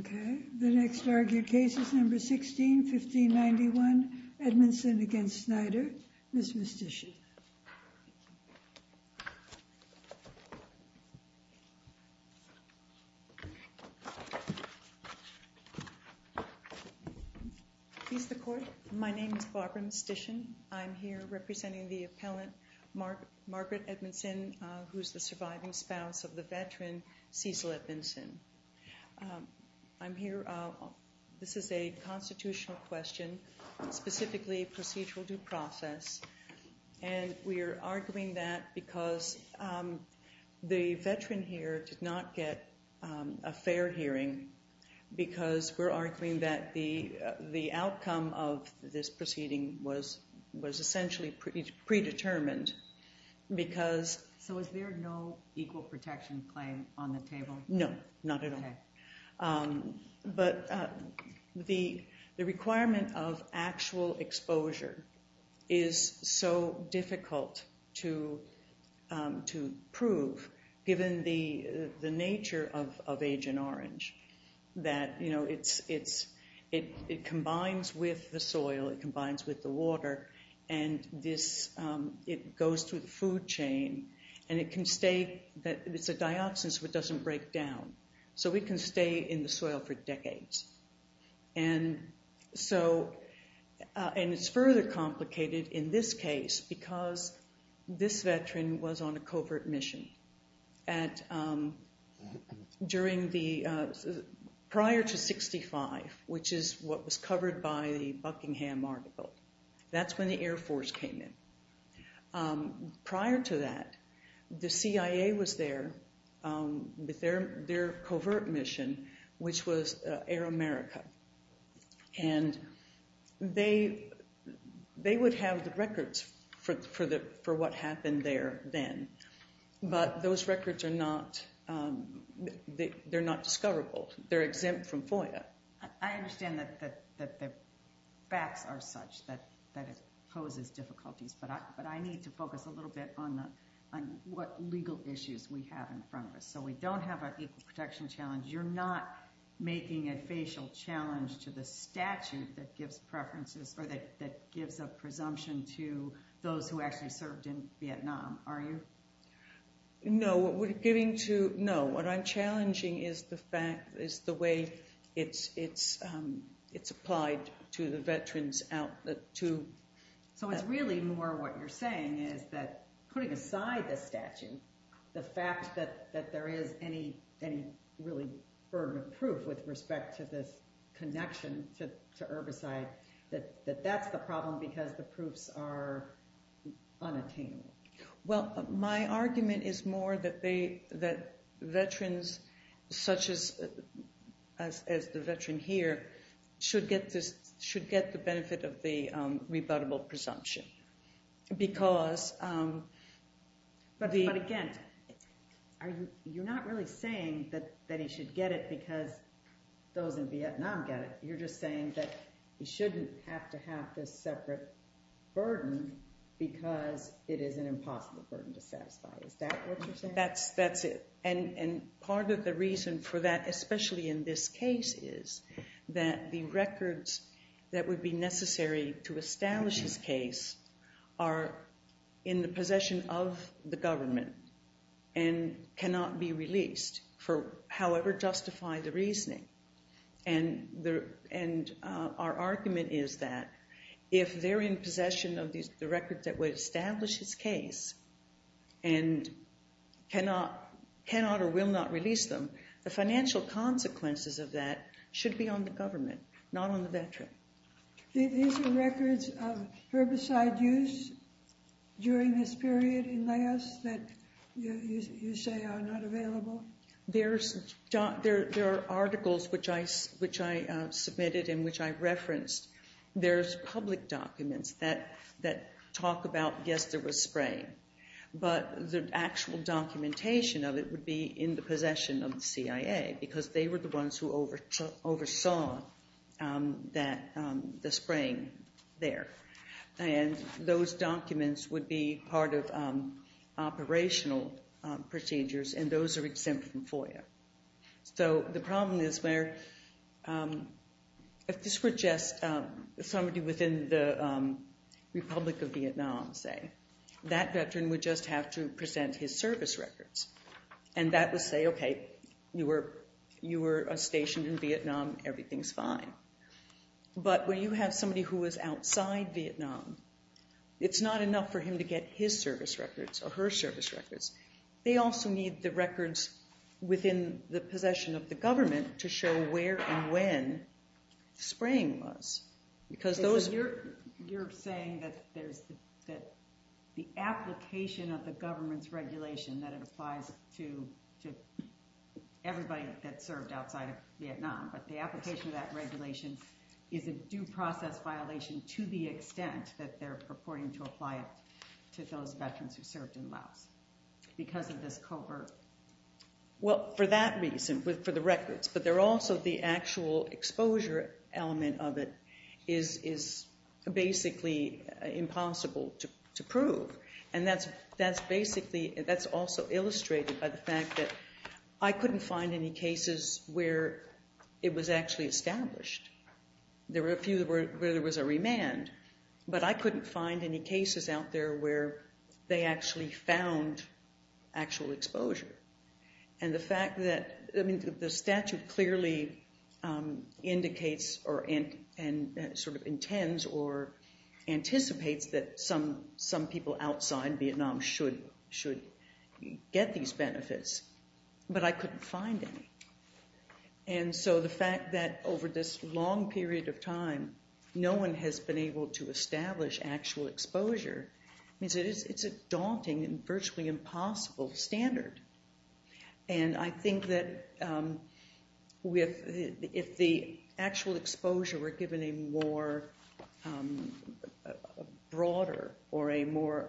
Okay, the next argued case is number 16, 1591, Edmondson v. Snyder. Ms. Mystician. Please the court. My name is Barbara Mystician. I'm here representing the appellant Margaret Edmondson, who's the surviving spouse of the veteran Cecil Edmondson. I'm here. This is a constitutional question, specifically procedural due process. And we are arguing that because the veteran here did not get a fair hearing, because we're arguing that the outcome of this proceeding was essentially predetermined, because... So is there no equal protection claim on the table? No, not at all. But the requirement of actual exposure is so difficult to prove, given the nature of Agent Orange, that it combines with the soil, it combines with the water, and it goes through the food chain, and it's a dioxin, so it doesn't break down. So we can stay in the soil for decades. And it's further complicated in this case, because this veteran was on a covert mission. Prior to 65, which is what was covered by the Buckingham article, that's when the Air Force came in. Prior to that, the CIA was there with their covert mission, which was Air America. And they would have the records for what happened there then, but those records are not... They're not discoverable. They're exempt from FOIA. I understand that the facts are such that it poses difficulties, but I need to focus a little bit on what legal issues we have in front of us. So we don't have an equal protection challenge. You're not making a facial challenge to the statute that gives preferences or that gives a presumption to those who actually served in Vietnam, are you? No, what we're getting to... No, what I'm challenging is the way it's applied to the veterans out to... So it's really more what you're saying is that, putting aside the statute, the fact that there is any really burden of proof with respect to this connection to herbicide, that that's the problem because the proofs are veterans such as the veteran here should get the benefit of the rebuttable presumption because... But again, you're not really saying that he should get it because those in Vietnam get it. You're just saying that he shouldn't have to have this separate burden because it is an impossible burden to satisfy. Is that what you're saying? That's it. And part of the reason for that, especially in this case, is that the records that would be necessary to establish his case are in the possession of the government and cannot be released for however justify the reasoning. And our argument is that if they're in possession of the records that would establish his case and cannot or will not release them, the financial consequences of that should be on the government, not on the veteran. These are records of herbicide use during this period in Laos that you say are not available? There are articles which I submitted and which I referenced. There's public documents that talk about, yes, there was spraying, but the actual documentation of it would be in the possession of the CIA because they were the ones who oversaw the spraying there. And those documents would be part of operational procedures and those are exempt from FOIA. So the problem is where if this were just somebody within the Republic of Vietnam, say, that veteran would just have to present his service records. And that would say, okay, you were stationed in Vietnam, everything's fine. But when you have somebody who was outside Vietnam, it's not enough for him to get his service records. They also need the records within the possession of the government to show where and when spraying was. You're saying that the application of the government's regulation that applies to everybody that served outside of Vietnam, but the application of that regulation is a due process violation to the extent that they're purporting to apply it to those veterans who served in Laos because of this covert? Well, for that reason, for the records, but they're also the actual exposure element of it is basically impossible to prove. And that's also illustrated by the fact that I couldn't find any cases where it was actually established. There were a few where there was a remand, but I couldn't find any cases out there where they actually found actual exposure. And the fact that, I mean, the statute clearly indicates or sort of intends or anticipates that some people outside Vietnam should get these records. But for a long period of time, no one has been able to establish actual exposure. It's a daunting and virtually impossible standard. And I think that if the actual exposure were given a more broader or a more,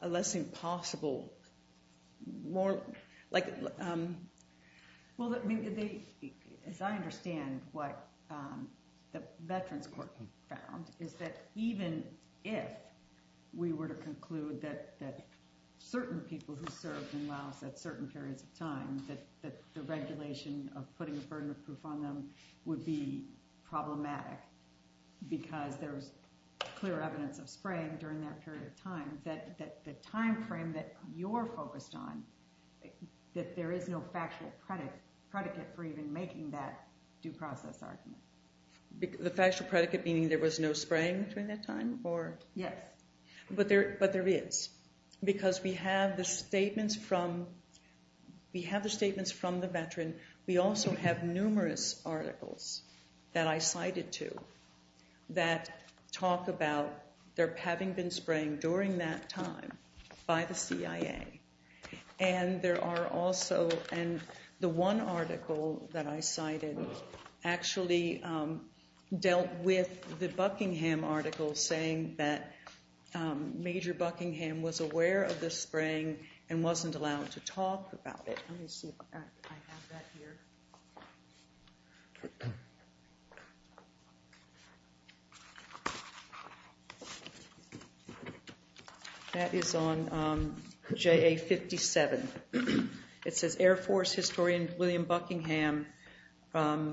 a less impossible, more like. Well, as I understand what the Veterans Court found is that even if we were to conclude that certain people who served in Laos at certain periods of time, that the regulation of putting a burden of proof on them would be problematic because there was clear evidence of spraying during that period of time, that the time frame that you're focused on, that there is no factual predicate for even making that due process argument. The factual predicate meaning there was no spraying during that time or? Yes. But there is because we have the statements from, we have the statements from the veteran. We also have numerous articles that I cited to that talk about their having been spraying during that time by the CIA. And there are also, and the one article that I cited actually dealt with the Buckingham article saying that Major Buckingham was aware of the spraying and wasn't allowed to talk about it. Let me see if I have that here. That is on JA57. It says Air Force historian William Buckingham of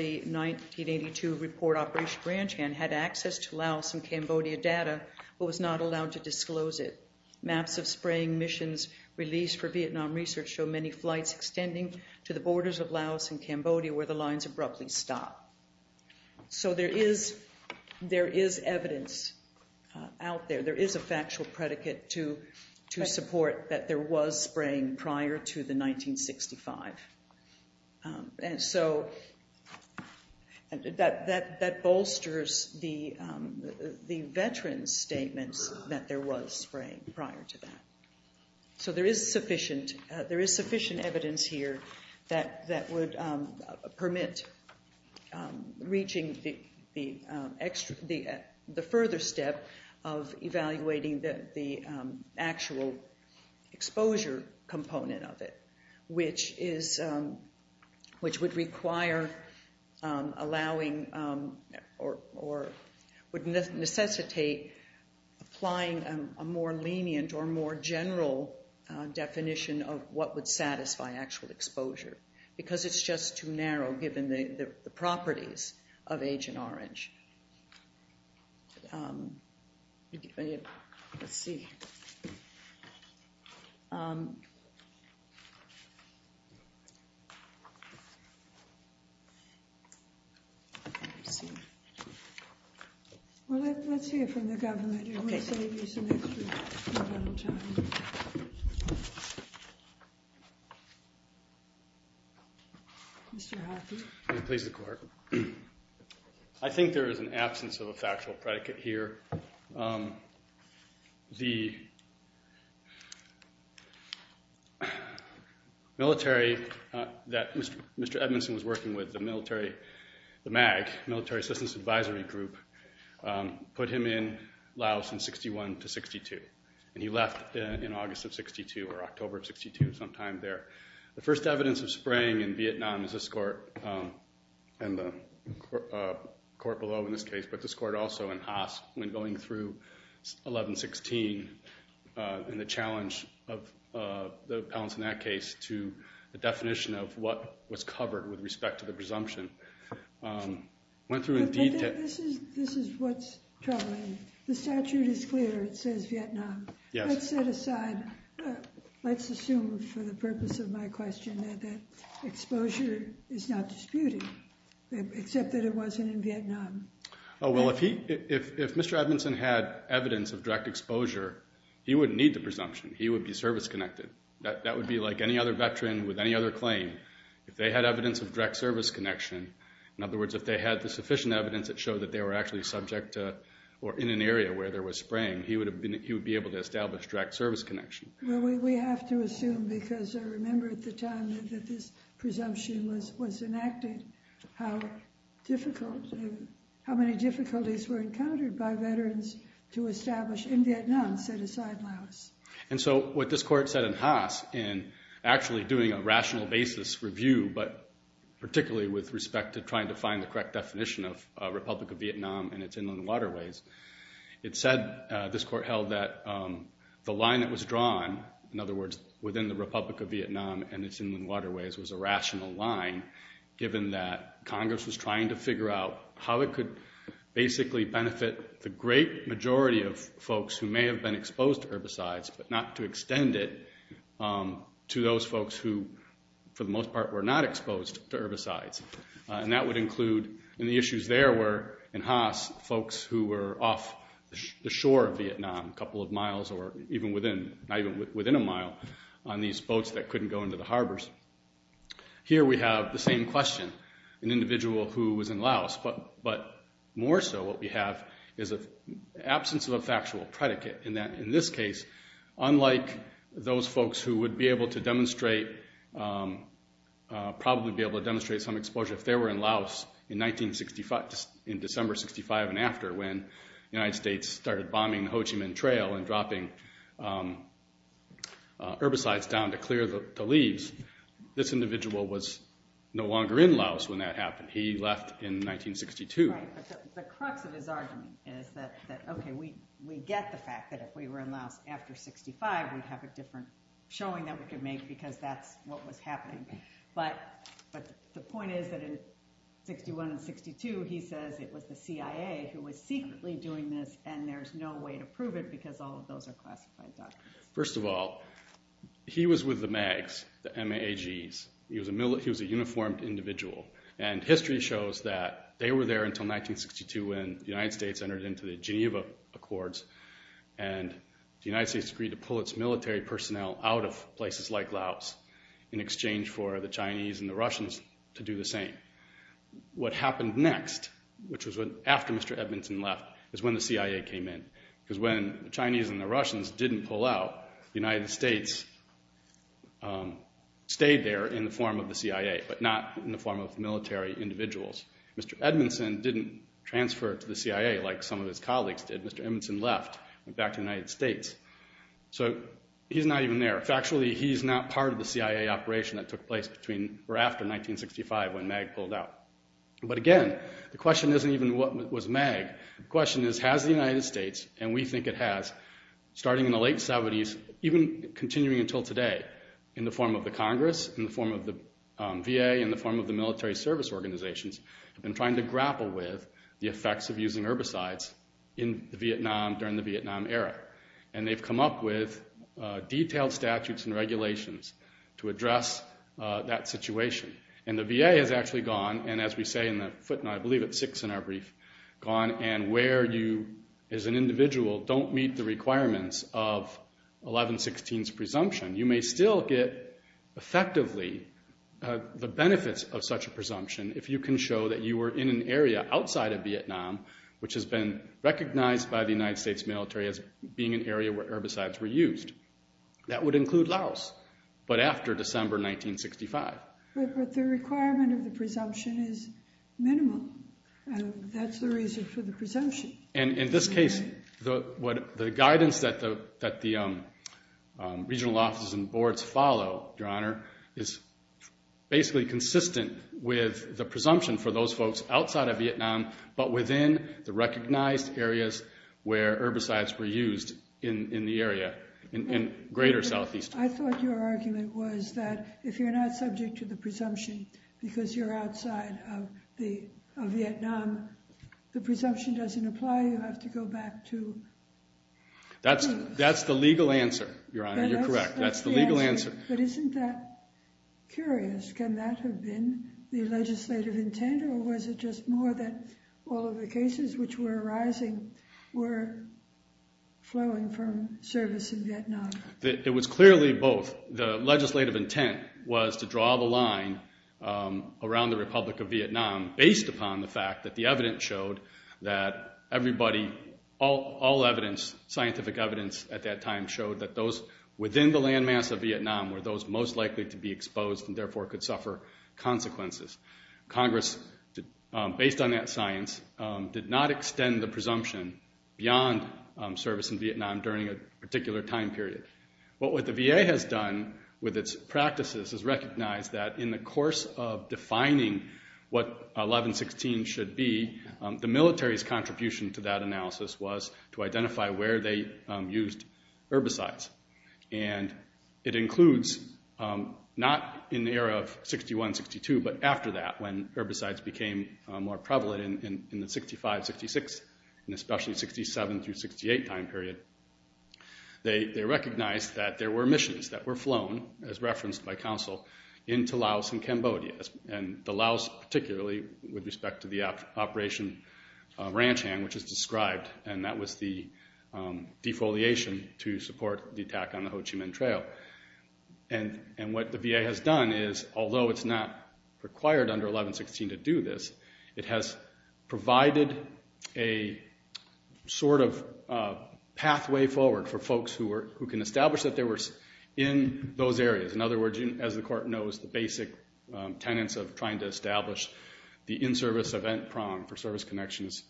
the 1982 report Operation Grand Chan had access to Laos and Cambodia data but was not allowed to disclose it. Maps of spraying missions released for Vietnam research show many flights extending to the borders of Laos and Cambodia where the lines abruptly stop. So there is evidence out there. There is a factual predicate to support that there was spraying prior to the 1965. And so that bolsters the veteran's statements that there was spraying prior to that. So there is sufficient evidence here that would permit reaching the further step of evaluating the actual exposure component of it, which would require allowing or would necessitate applying a more lenient or more general definition of what would satisfy actual exposure. Because it's just too narrow given the properties of Agent Orange. Let's see. Well, let's see it from the government here. We'll save you some extra time. I think there is an absence of a factual predicate here. The military that Mr. Edmondson was working with, the MAG, Military Assistance Advisory Group, put him in Laos in 61 to 62. And he left in August of 62 or October of 62 sometime there. The first evidence of spraying in Vietnam is this court and the court below in this case, but this court also in Haas when going through 1116 and the challenge of the appellants in that case to the definition of what was Let's assume for the purpose of my question that exposure is not disputed, except that it wasn't in Vietnam. Well, if Mr. Edmondson had evidence of direct exposure, he wouldn't need the presumption. He would be service-connected. That would be like any other veteran with any other claim. If they had evidence of direct service connection, in other words, if they had the sufficient evidence that showed that they were actually subject or in an area where there was spraying, he would be able to establish direct service connection. Well, we have to assume because I remember at the time that this presumption was enacted, how many difficulties were encountered by veterans to establish in Vietnam, set aside Laos. And so what this court said in Haas in actually doing a rational basis review, but particularly with respect to trying to find the correct definition of Republic of Vietnam and its inland waterways, it said, this court held that the line that was drawn, in other words, within the Republic of Vietnam and its inland waterways was a rational line, given that Congress was trying to figure out how it could basically benefit the great majority of folks who may have been exposed to herbicides, but not to extend it to those folks who, for the most part, were not exposed to herbicides. And that would include, and the issues there were in Haas, folks who were off the shore of Vietnam, a couple of miles or even within a mile on these boats that couldn't go into the harbors. Here we have the same question, an individual who was in Laos, but more so what we have is an absence of a factual predicate. In this case, unlike those folks who would be able to demonstrate, probably be able to demonstrate some exposure if they were in Laos in 1965, in December 1965 and after, when the United States started bombing Ho Chi Minh Trail and dropping herbicides down to clear the leaves, this individual was no longer in Laos when that happened. He left in 1962. Right, but the crux of his argument is that, okay, we get the fact that if we were in Laos after 1965, we'd have a different showing that we could make because that's what was going on. The point is that in 61 and 62, he says it was the CIA who was secretly doing this and there's no way to prove it because all of those are classified documents. First of all, he was with the MAGs, the M-A-G-s. He was a uniformed individual and history shows that they were there until 1962 when the United States entered into the Geneva Accords and the United States agreed to pull its military personnel out of places like the Russians to do the same. What happened next, which was after Mr. Edmondson left, is when the CIA came in because when the Chinese and the Russians didn't pull out, the United States stayed there in the form of the CIA but not in the form of military individuals. Mr. Edmondson didn't transfer to the CIA like some of his colleagues did. Mr. Edmondson left and went back to the United States. So he's not even there. Factually, he's not part of the CIA operation that took place after 1965 when MAG pulled out. But again, the question isn't even what was MAG. The question is, has the United States, and we think it has, starting in the late 70s, even continuing until today, in the form of the Congress, in the form of the VA, in the form of the military service organizations, been trying to grapple with the effects of using herbicides in Vietnam during the Vietnam era. And they've come up with detailed statutes and regulations to address that situation. And the VA has actually gone, and as we say in the footnote, I believe it's six in our brief, gone. And where you, as an individual, don't meet the requirements of 1116's presumption, you may still get, effectively, the benefits of such a presumption if you can show that you were in an area outside of Vietnam which has been recognized by the United States military as being an area where herbicides were used. That would include Laos, but after December 1965. But the requirement of the presumption is minimal. That's the reason for the presumption. And in this case, the guidance that the regional offices and boards follow, Your Honor, is basically consistent with the presumption for those folks outside of Vietnam, but within the recognized areas where herbicides were used in the area in greater Southeast. I thought your argument was that if you're not subject to the presumption because you're outside of Vietnam, the presumption doesn't apply. You have to go back to... That's the legal answer, Your Honor. You're correct. That's the legal answer. But isn't that curious? Can that have been the legislative intent, or was it just more that all of the cases which were arising were flowing from service in Vietnam? It was clearly both. The legislative intent was to draw the line around the Republic of Vietnam based upon the fact that the evidence showed that everybody, all evidence, scientific evidence at that time showed that those within the land mass of Vietnam were those most likely to be exposed and therefore could suffer consequences. Congress, based on that science, did not extend the presumption beyond service in Vietnam during a particular time period. What the VA has done with its practices is recognize that in the course of defining what 1116 should be, the military's contribution to that analysis was to identify where they used herbicides. And it includes not in the era of 61, 62, but after that when herbicides became more prevalent in the 65, 66, and especially 67 through 68 time period. They recognized that there were emissions that were flown, as referenced by counsel, into Laos and Cambodia, and the Laos particularly with respect to the Operation Ranch Hand, which is described, and that was the defoliation to support the attack on the Ho Chi Minh Trail. And what the VA has done is, although it's not required under 1116 to do this, it has provided a sort of pathway forward for folks who can establish that they were in those areas. In other words, as the Court knows, the basic tenets of trying to establish service connections,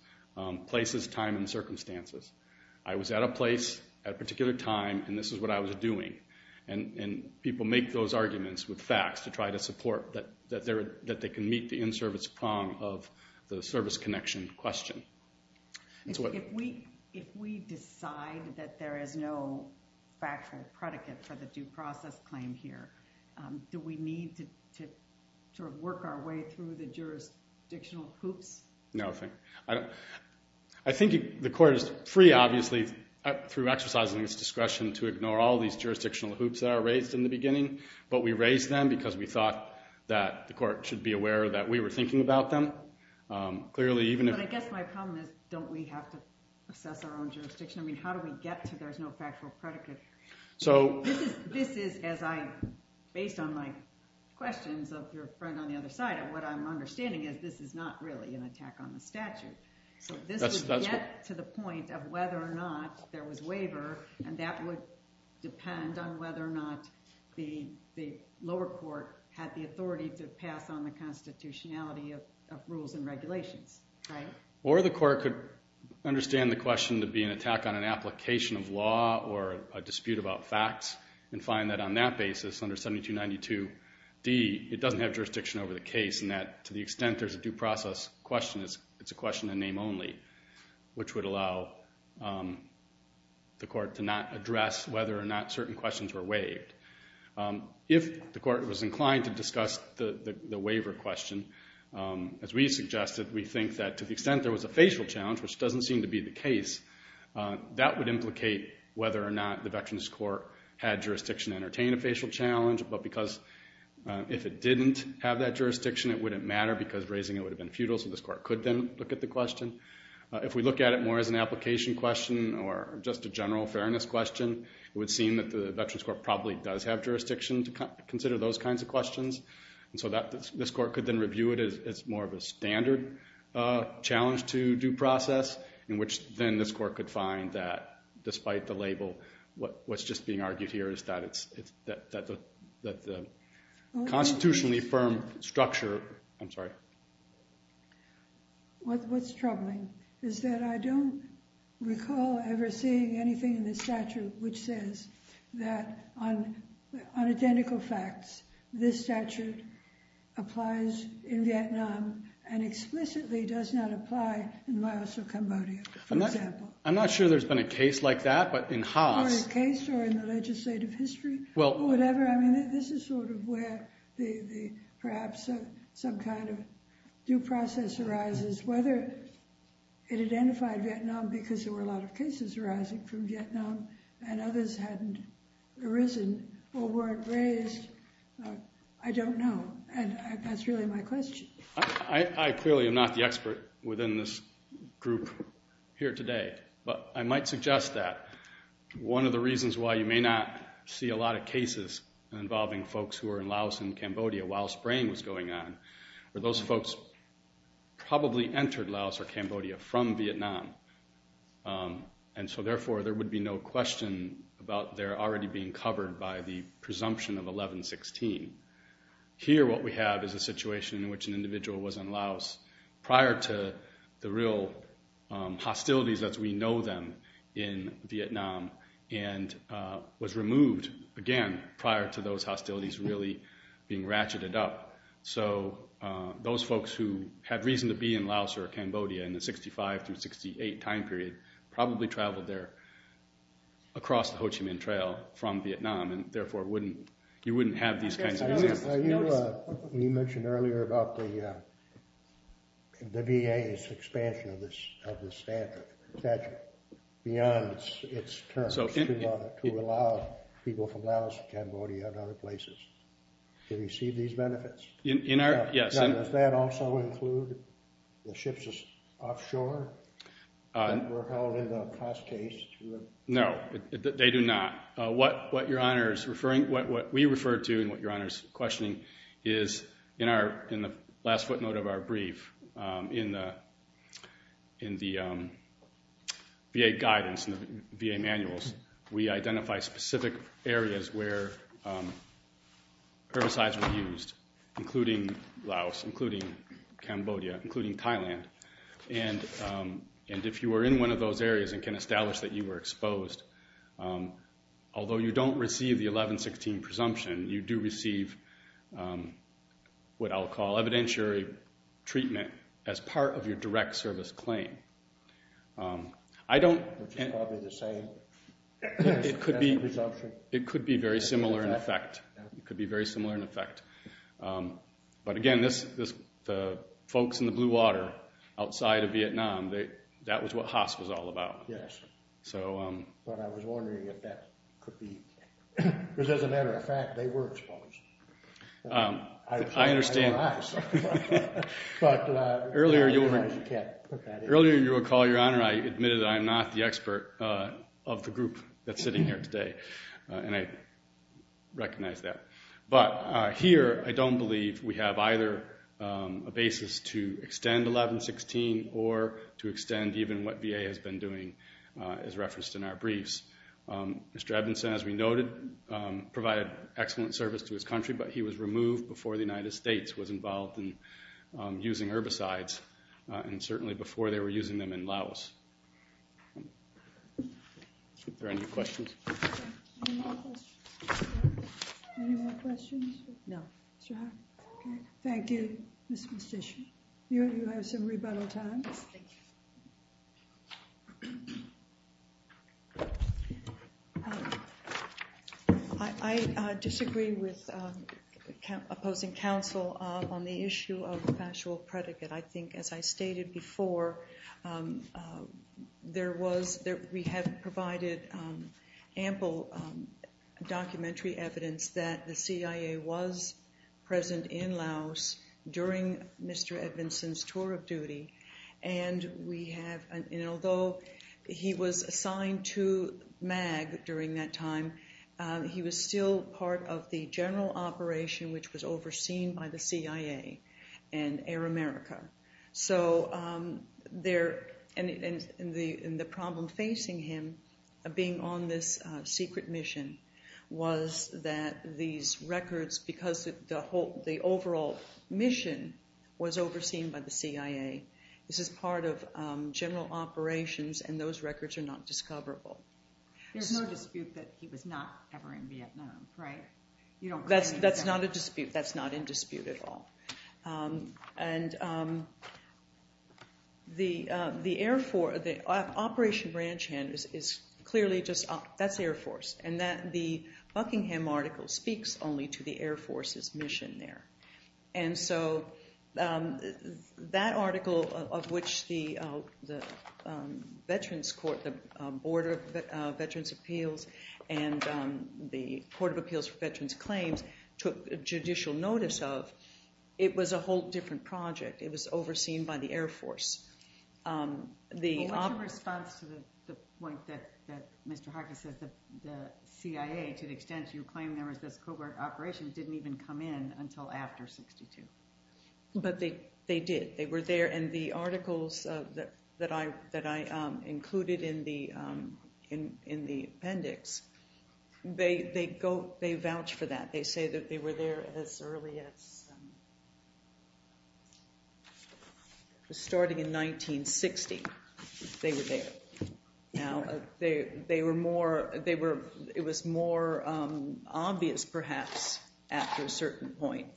places, time, and circumstances. I was at a place at a particular time and this is what I was doing. And people make those arguments with facts to try to support that they can meet the in-service prong of the service connection question. If we decide that there is no factual predicate for the due process claim here, do we need to sort of work our way through the jurisdictional hoops? No. I think the Court is free, obviously, through exercising its discretion to ignore all these jurisdictional hoops that are raised in the beginning, but we raised them because we thought that the Court should be aware that we were thinking about them. But I guess my problem is, don't we have to assess our own jurisdiction? I mean, how do we get to there's no factual predicate? Based on my questions of your friend on the other side, what I'm understanding is this is not really an attack on the statute. So this would get to the point of whether or not there was waiver, and that would depend on whether or not the lower court had the authority to pass on the constitutionality of rules and regulations. Right. Or the Court could understand the question to be an attack on an application of law or a dispute about facts, and find that on that basis, under 7292D, it doesn't have jurisdiction over the case in that, to the extent there's a due process question, it's a question in name only, which would allow the Court to not address whether or not certain questions were waived. If the Court was inclined to discuss the waiver question, as we suggested, we think that to the extent there was a facial challenge, which doesn't seem to be the case, that would implicate whether or not the Veterans Court had jurisdiction to entertain a facial challenge, but because if it didn't have that jurisdiction, it wouldn't matter because raising it would have been futile, so this Court could then look at the question. If we look at it more as an application question or just a general fairness question, it would seem that the Veterans Court probably does have jurisdiction to consider those kinds of questions, and so this Court could then review it as more of a standard challenge to due process, in which then this Court could find that, despite the label, what's just being argued here is that the constitutionally firm structure, I'm sorry. What's troubling is that I don't recall ever seeing anything in the statute which says that on identical facts, this statute applies in Vietnam and explicitly does not apply in Laos or Cambodia, for example. I'm not sure there's been a case like that, but in Haas... Or a case or in the legislative history, or whatever. I mean, this is sort of where perhaps some kind of due process arises, whether it identified Vietnam because there were a lot of cases arising from Vietnam and others hadn't arisen or weren't raised. I don't know, and that's really my question. I clearly am not the expert within this group here today, but I might suggest that one of the reasons why you may not see a lot of cases involving folks who are in Laos and Cambodia while spraying was going on, were those folks probably entered Laos or Cambodia from Vietnam. And so therefore, there would be no question about their already being covered by the presumption of 1116. Here what we have is a situation in which an individual was in Laos prior to the real hostilities as we know them in Vietnam, and was removed, again, prior to those hostilities really being ratcheted up. So those folks who had reason to be in Laos or Cambodia in the 65 through 68 time period probably traveled there across the Ho Chi Minh Trail from Vietnam, and therefore you wouldn't have these kinds of examples. You mentioned earlier about the VA's expansion of this statute, beyond its terms to allow people from Laos, Cambodia, and other places to receive these benefits. Does that also include the ships offshore that were held in the past case? No, they do not. What we referred to and what Your Honor is questioning is in the last footnote of our brief, in the VA guidance, in the VA manuals, we identify specific areas where herbicides were used, including Laos, including Cambodia, including Thailand, and if you were in one of those areas and can establish that you were exposed, although you don't receive the 1116 presumption, you do receive what I'll call evidentiary treatment as part of your direct service claim. It could be very similar in effect. It could be very similar in effect. But again, the folks in the blue water outside of Vietnam, that was what Haas was all about. But I was wondering if that could be, because as a matter of fact, they were exposed. I understand. Earlier, Your Honor, I admitted that I'm not the expert of the group that's sitting here today, and I recognize that. But here, I don't believe we have either a basis to extend 1116 or to extend even what VA has been doing as referenced in our briefs. Mr. Edmondson, as we noted, provided excellent service to his country, but he was removed before the United States was involved in using herbicides, and certainly before they were using them in Laos. Are there any questions? Any more questions? No. Mr. Haas. Thank you. Ms. Mastichio, you have some rebuttal time. I disagree with opposing counsel on the issue of factual predicate. I think, as I stated before, we have provided ample documentary evidence that the CIA was present in Laos during Mr. Edmondson's tour of duty, and although he was assigned to MAG during that time, he was still part of the CIA. And the problem facing him, being on this secret mission, was that these records, because the overall mission was overseen by the CIA, this is part of general operations, and those records are not discoverable. There's no dispute that he was not ever in Vietnam, right? That's not in dispute at all. And the Air Force, Operation Ranch Hand is clearly just, that's the Air Force, and the Buckingham article speaks only to the Air Force's mission there. And so that article of which the Veterans Court, the Board of Veterans' Appeals, and the Court of Appeals for Veterans' Claims took judicial notice of, it was a whole different project. It was overseen by the Air Force. What's your response to the point that Mr. Harkin says the CIA, to the extent you claim there was this covert operation, didn't even come in until after 62? But they did. They were there, and the articles that I included in the appendix, they vouch for that. They say that they were there as early as, starting in 1960, they were there. Now, they were more, it was more obvious perhaps after a certain point,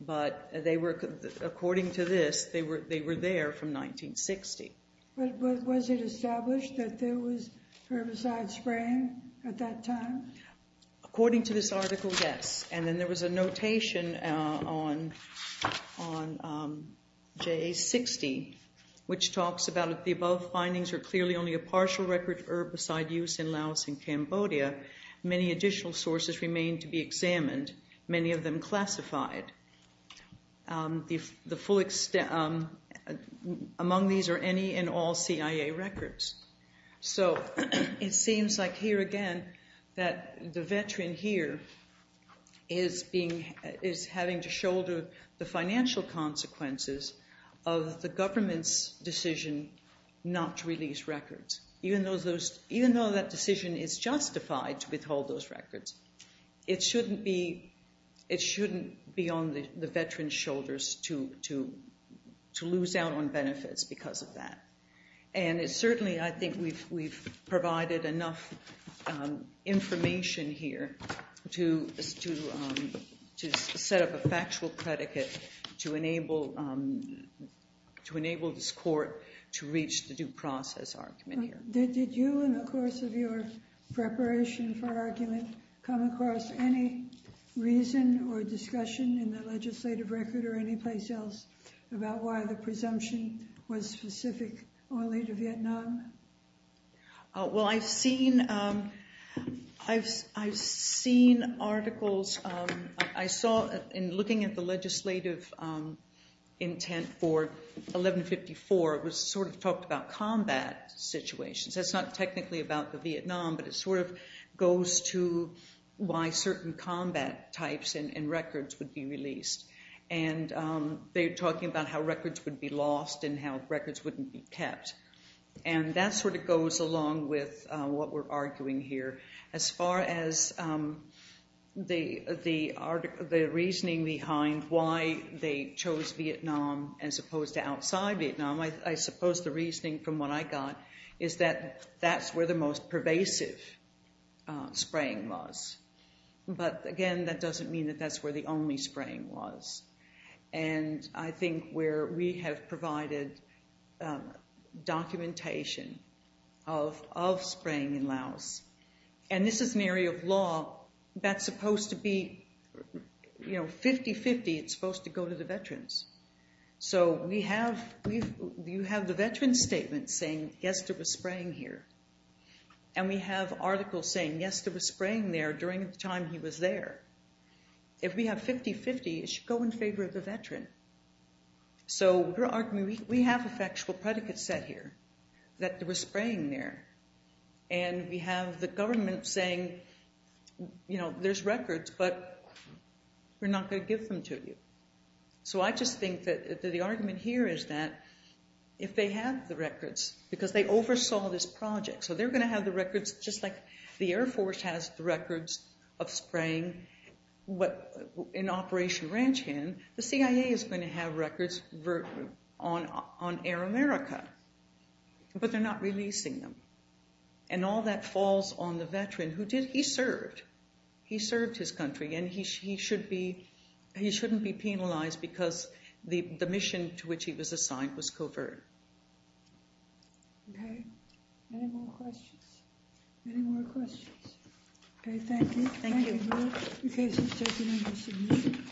but they were, according to this, they were there from 1960. But was it established that there was herbicide spraying at that time? According to this article, yes. And then there was a notation on JA-60, which talks about the above findings are clearly only a partial record herbicide use in Laos and Cambodia. Many additional sources remain to be examined, many of them classified. Among these are any and all CIA records. So it seems like here again that the veteran here is having to shoulder the financial consequences of the government's decision not to release records. Even though that decision is justified to withhold those records, it shouldn't be on the veteran's shoulders to lose out on benefits because of that. And certainly I think we've provided enough information here to set up a factual predicate to enable this court to reach the due process argument here. Did you, in the course of your preparation for argument, come across any reason or discussion in the legislative record or any place else about why the presumption was specific only to Vietnam? Well, I've seen articles. I saw in looking at the legislative intent for 1154, it was sort of talked about combat situations. That's not technically about the Vietnam, but it sort of goes to why certain combat types and records would be released. And they're talking about how records would be lost and how records wouldn't be kept. And that sort of goes along with what we're arguing here. As far as the reasoning behind why they chose Vietnam as opposed to outside Vietnam, I suppose the reasoning from what I got is that that's where the most pervasive spraying was. But again, that doesn't mean that that's where the only spraying was. And I think where we have provided documentation of spraying in Laos, and this is an area of law that's supposed to be, you know, 50-50, it's supposed to go to the veterans. So you have the veteran's statement saying, yes, there was spraying here. And we have articles saying, yes, there was spraying there during the time he was there. If we have 50-50, it should go in favor of the veteran. So we have a factual predicate set here that there was spraying there. And we have the government saying, you know, there's records, but we're not going to give them to you. So I just think that the argument here is that if they have the records, because they oversaw this project, so they're going to have the records just like the Air Force has the records of spraying in Operation Ranch Hand, the CIA is going to have records on Air America, but they're not releasing them. And all that falls on the veteran who did, he served. He served his country, and he shouldn't be penalized because the mission to which he was assigned was covert. Okay, any more questions? Any more questions? Okay, thank you. Thank you.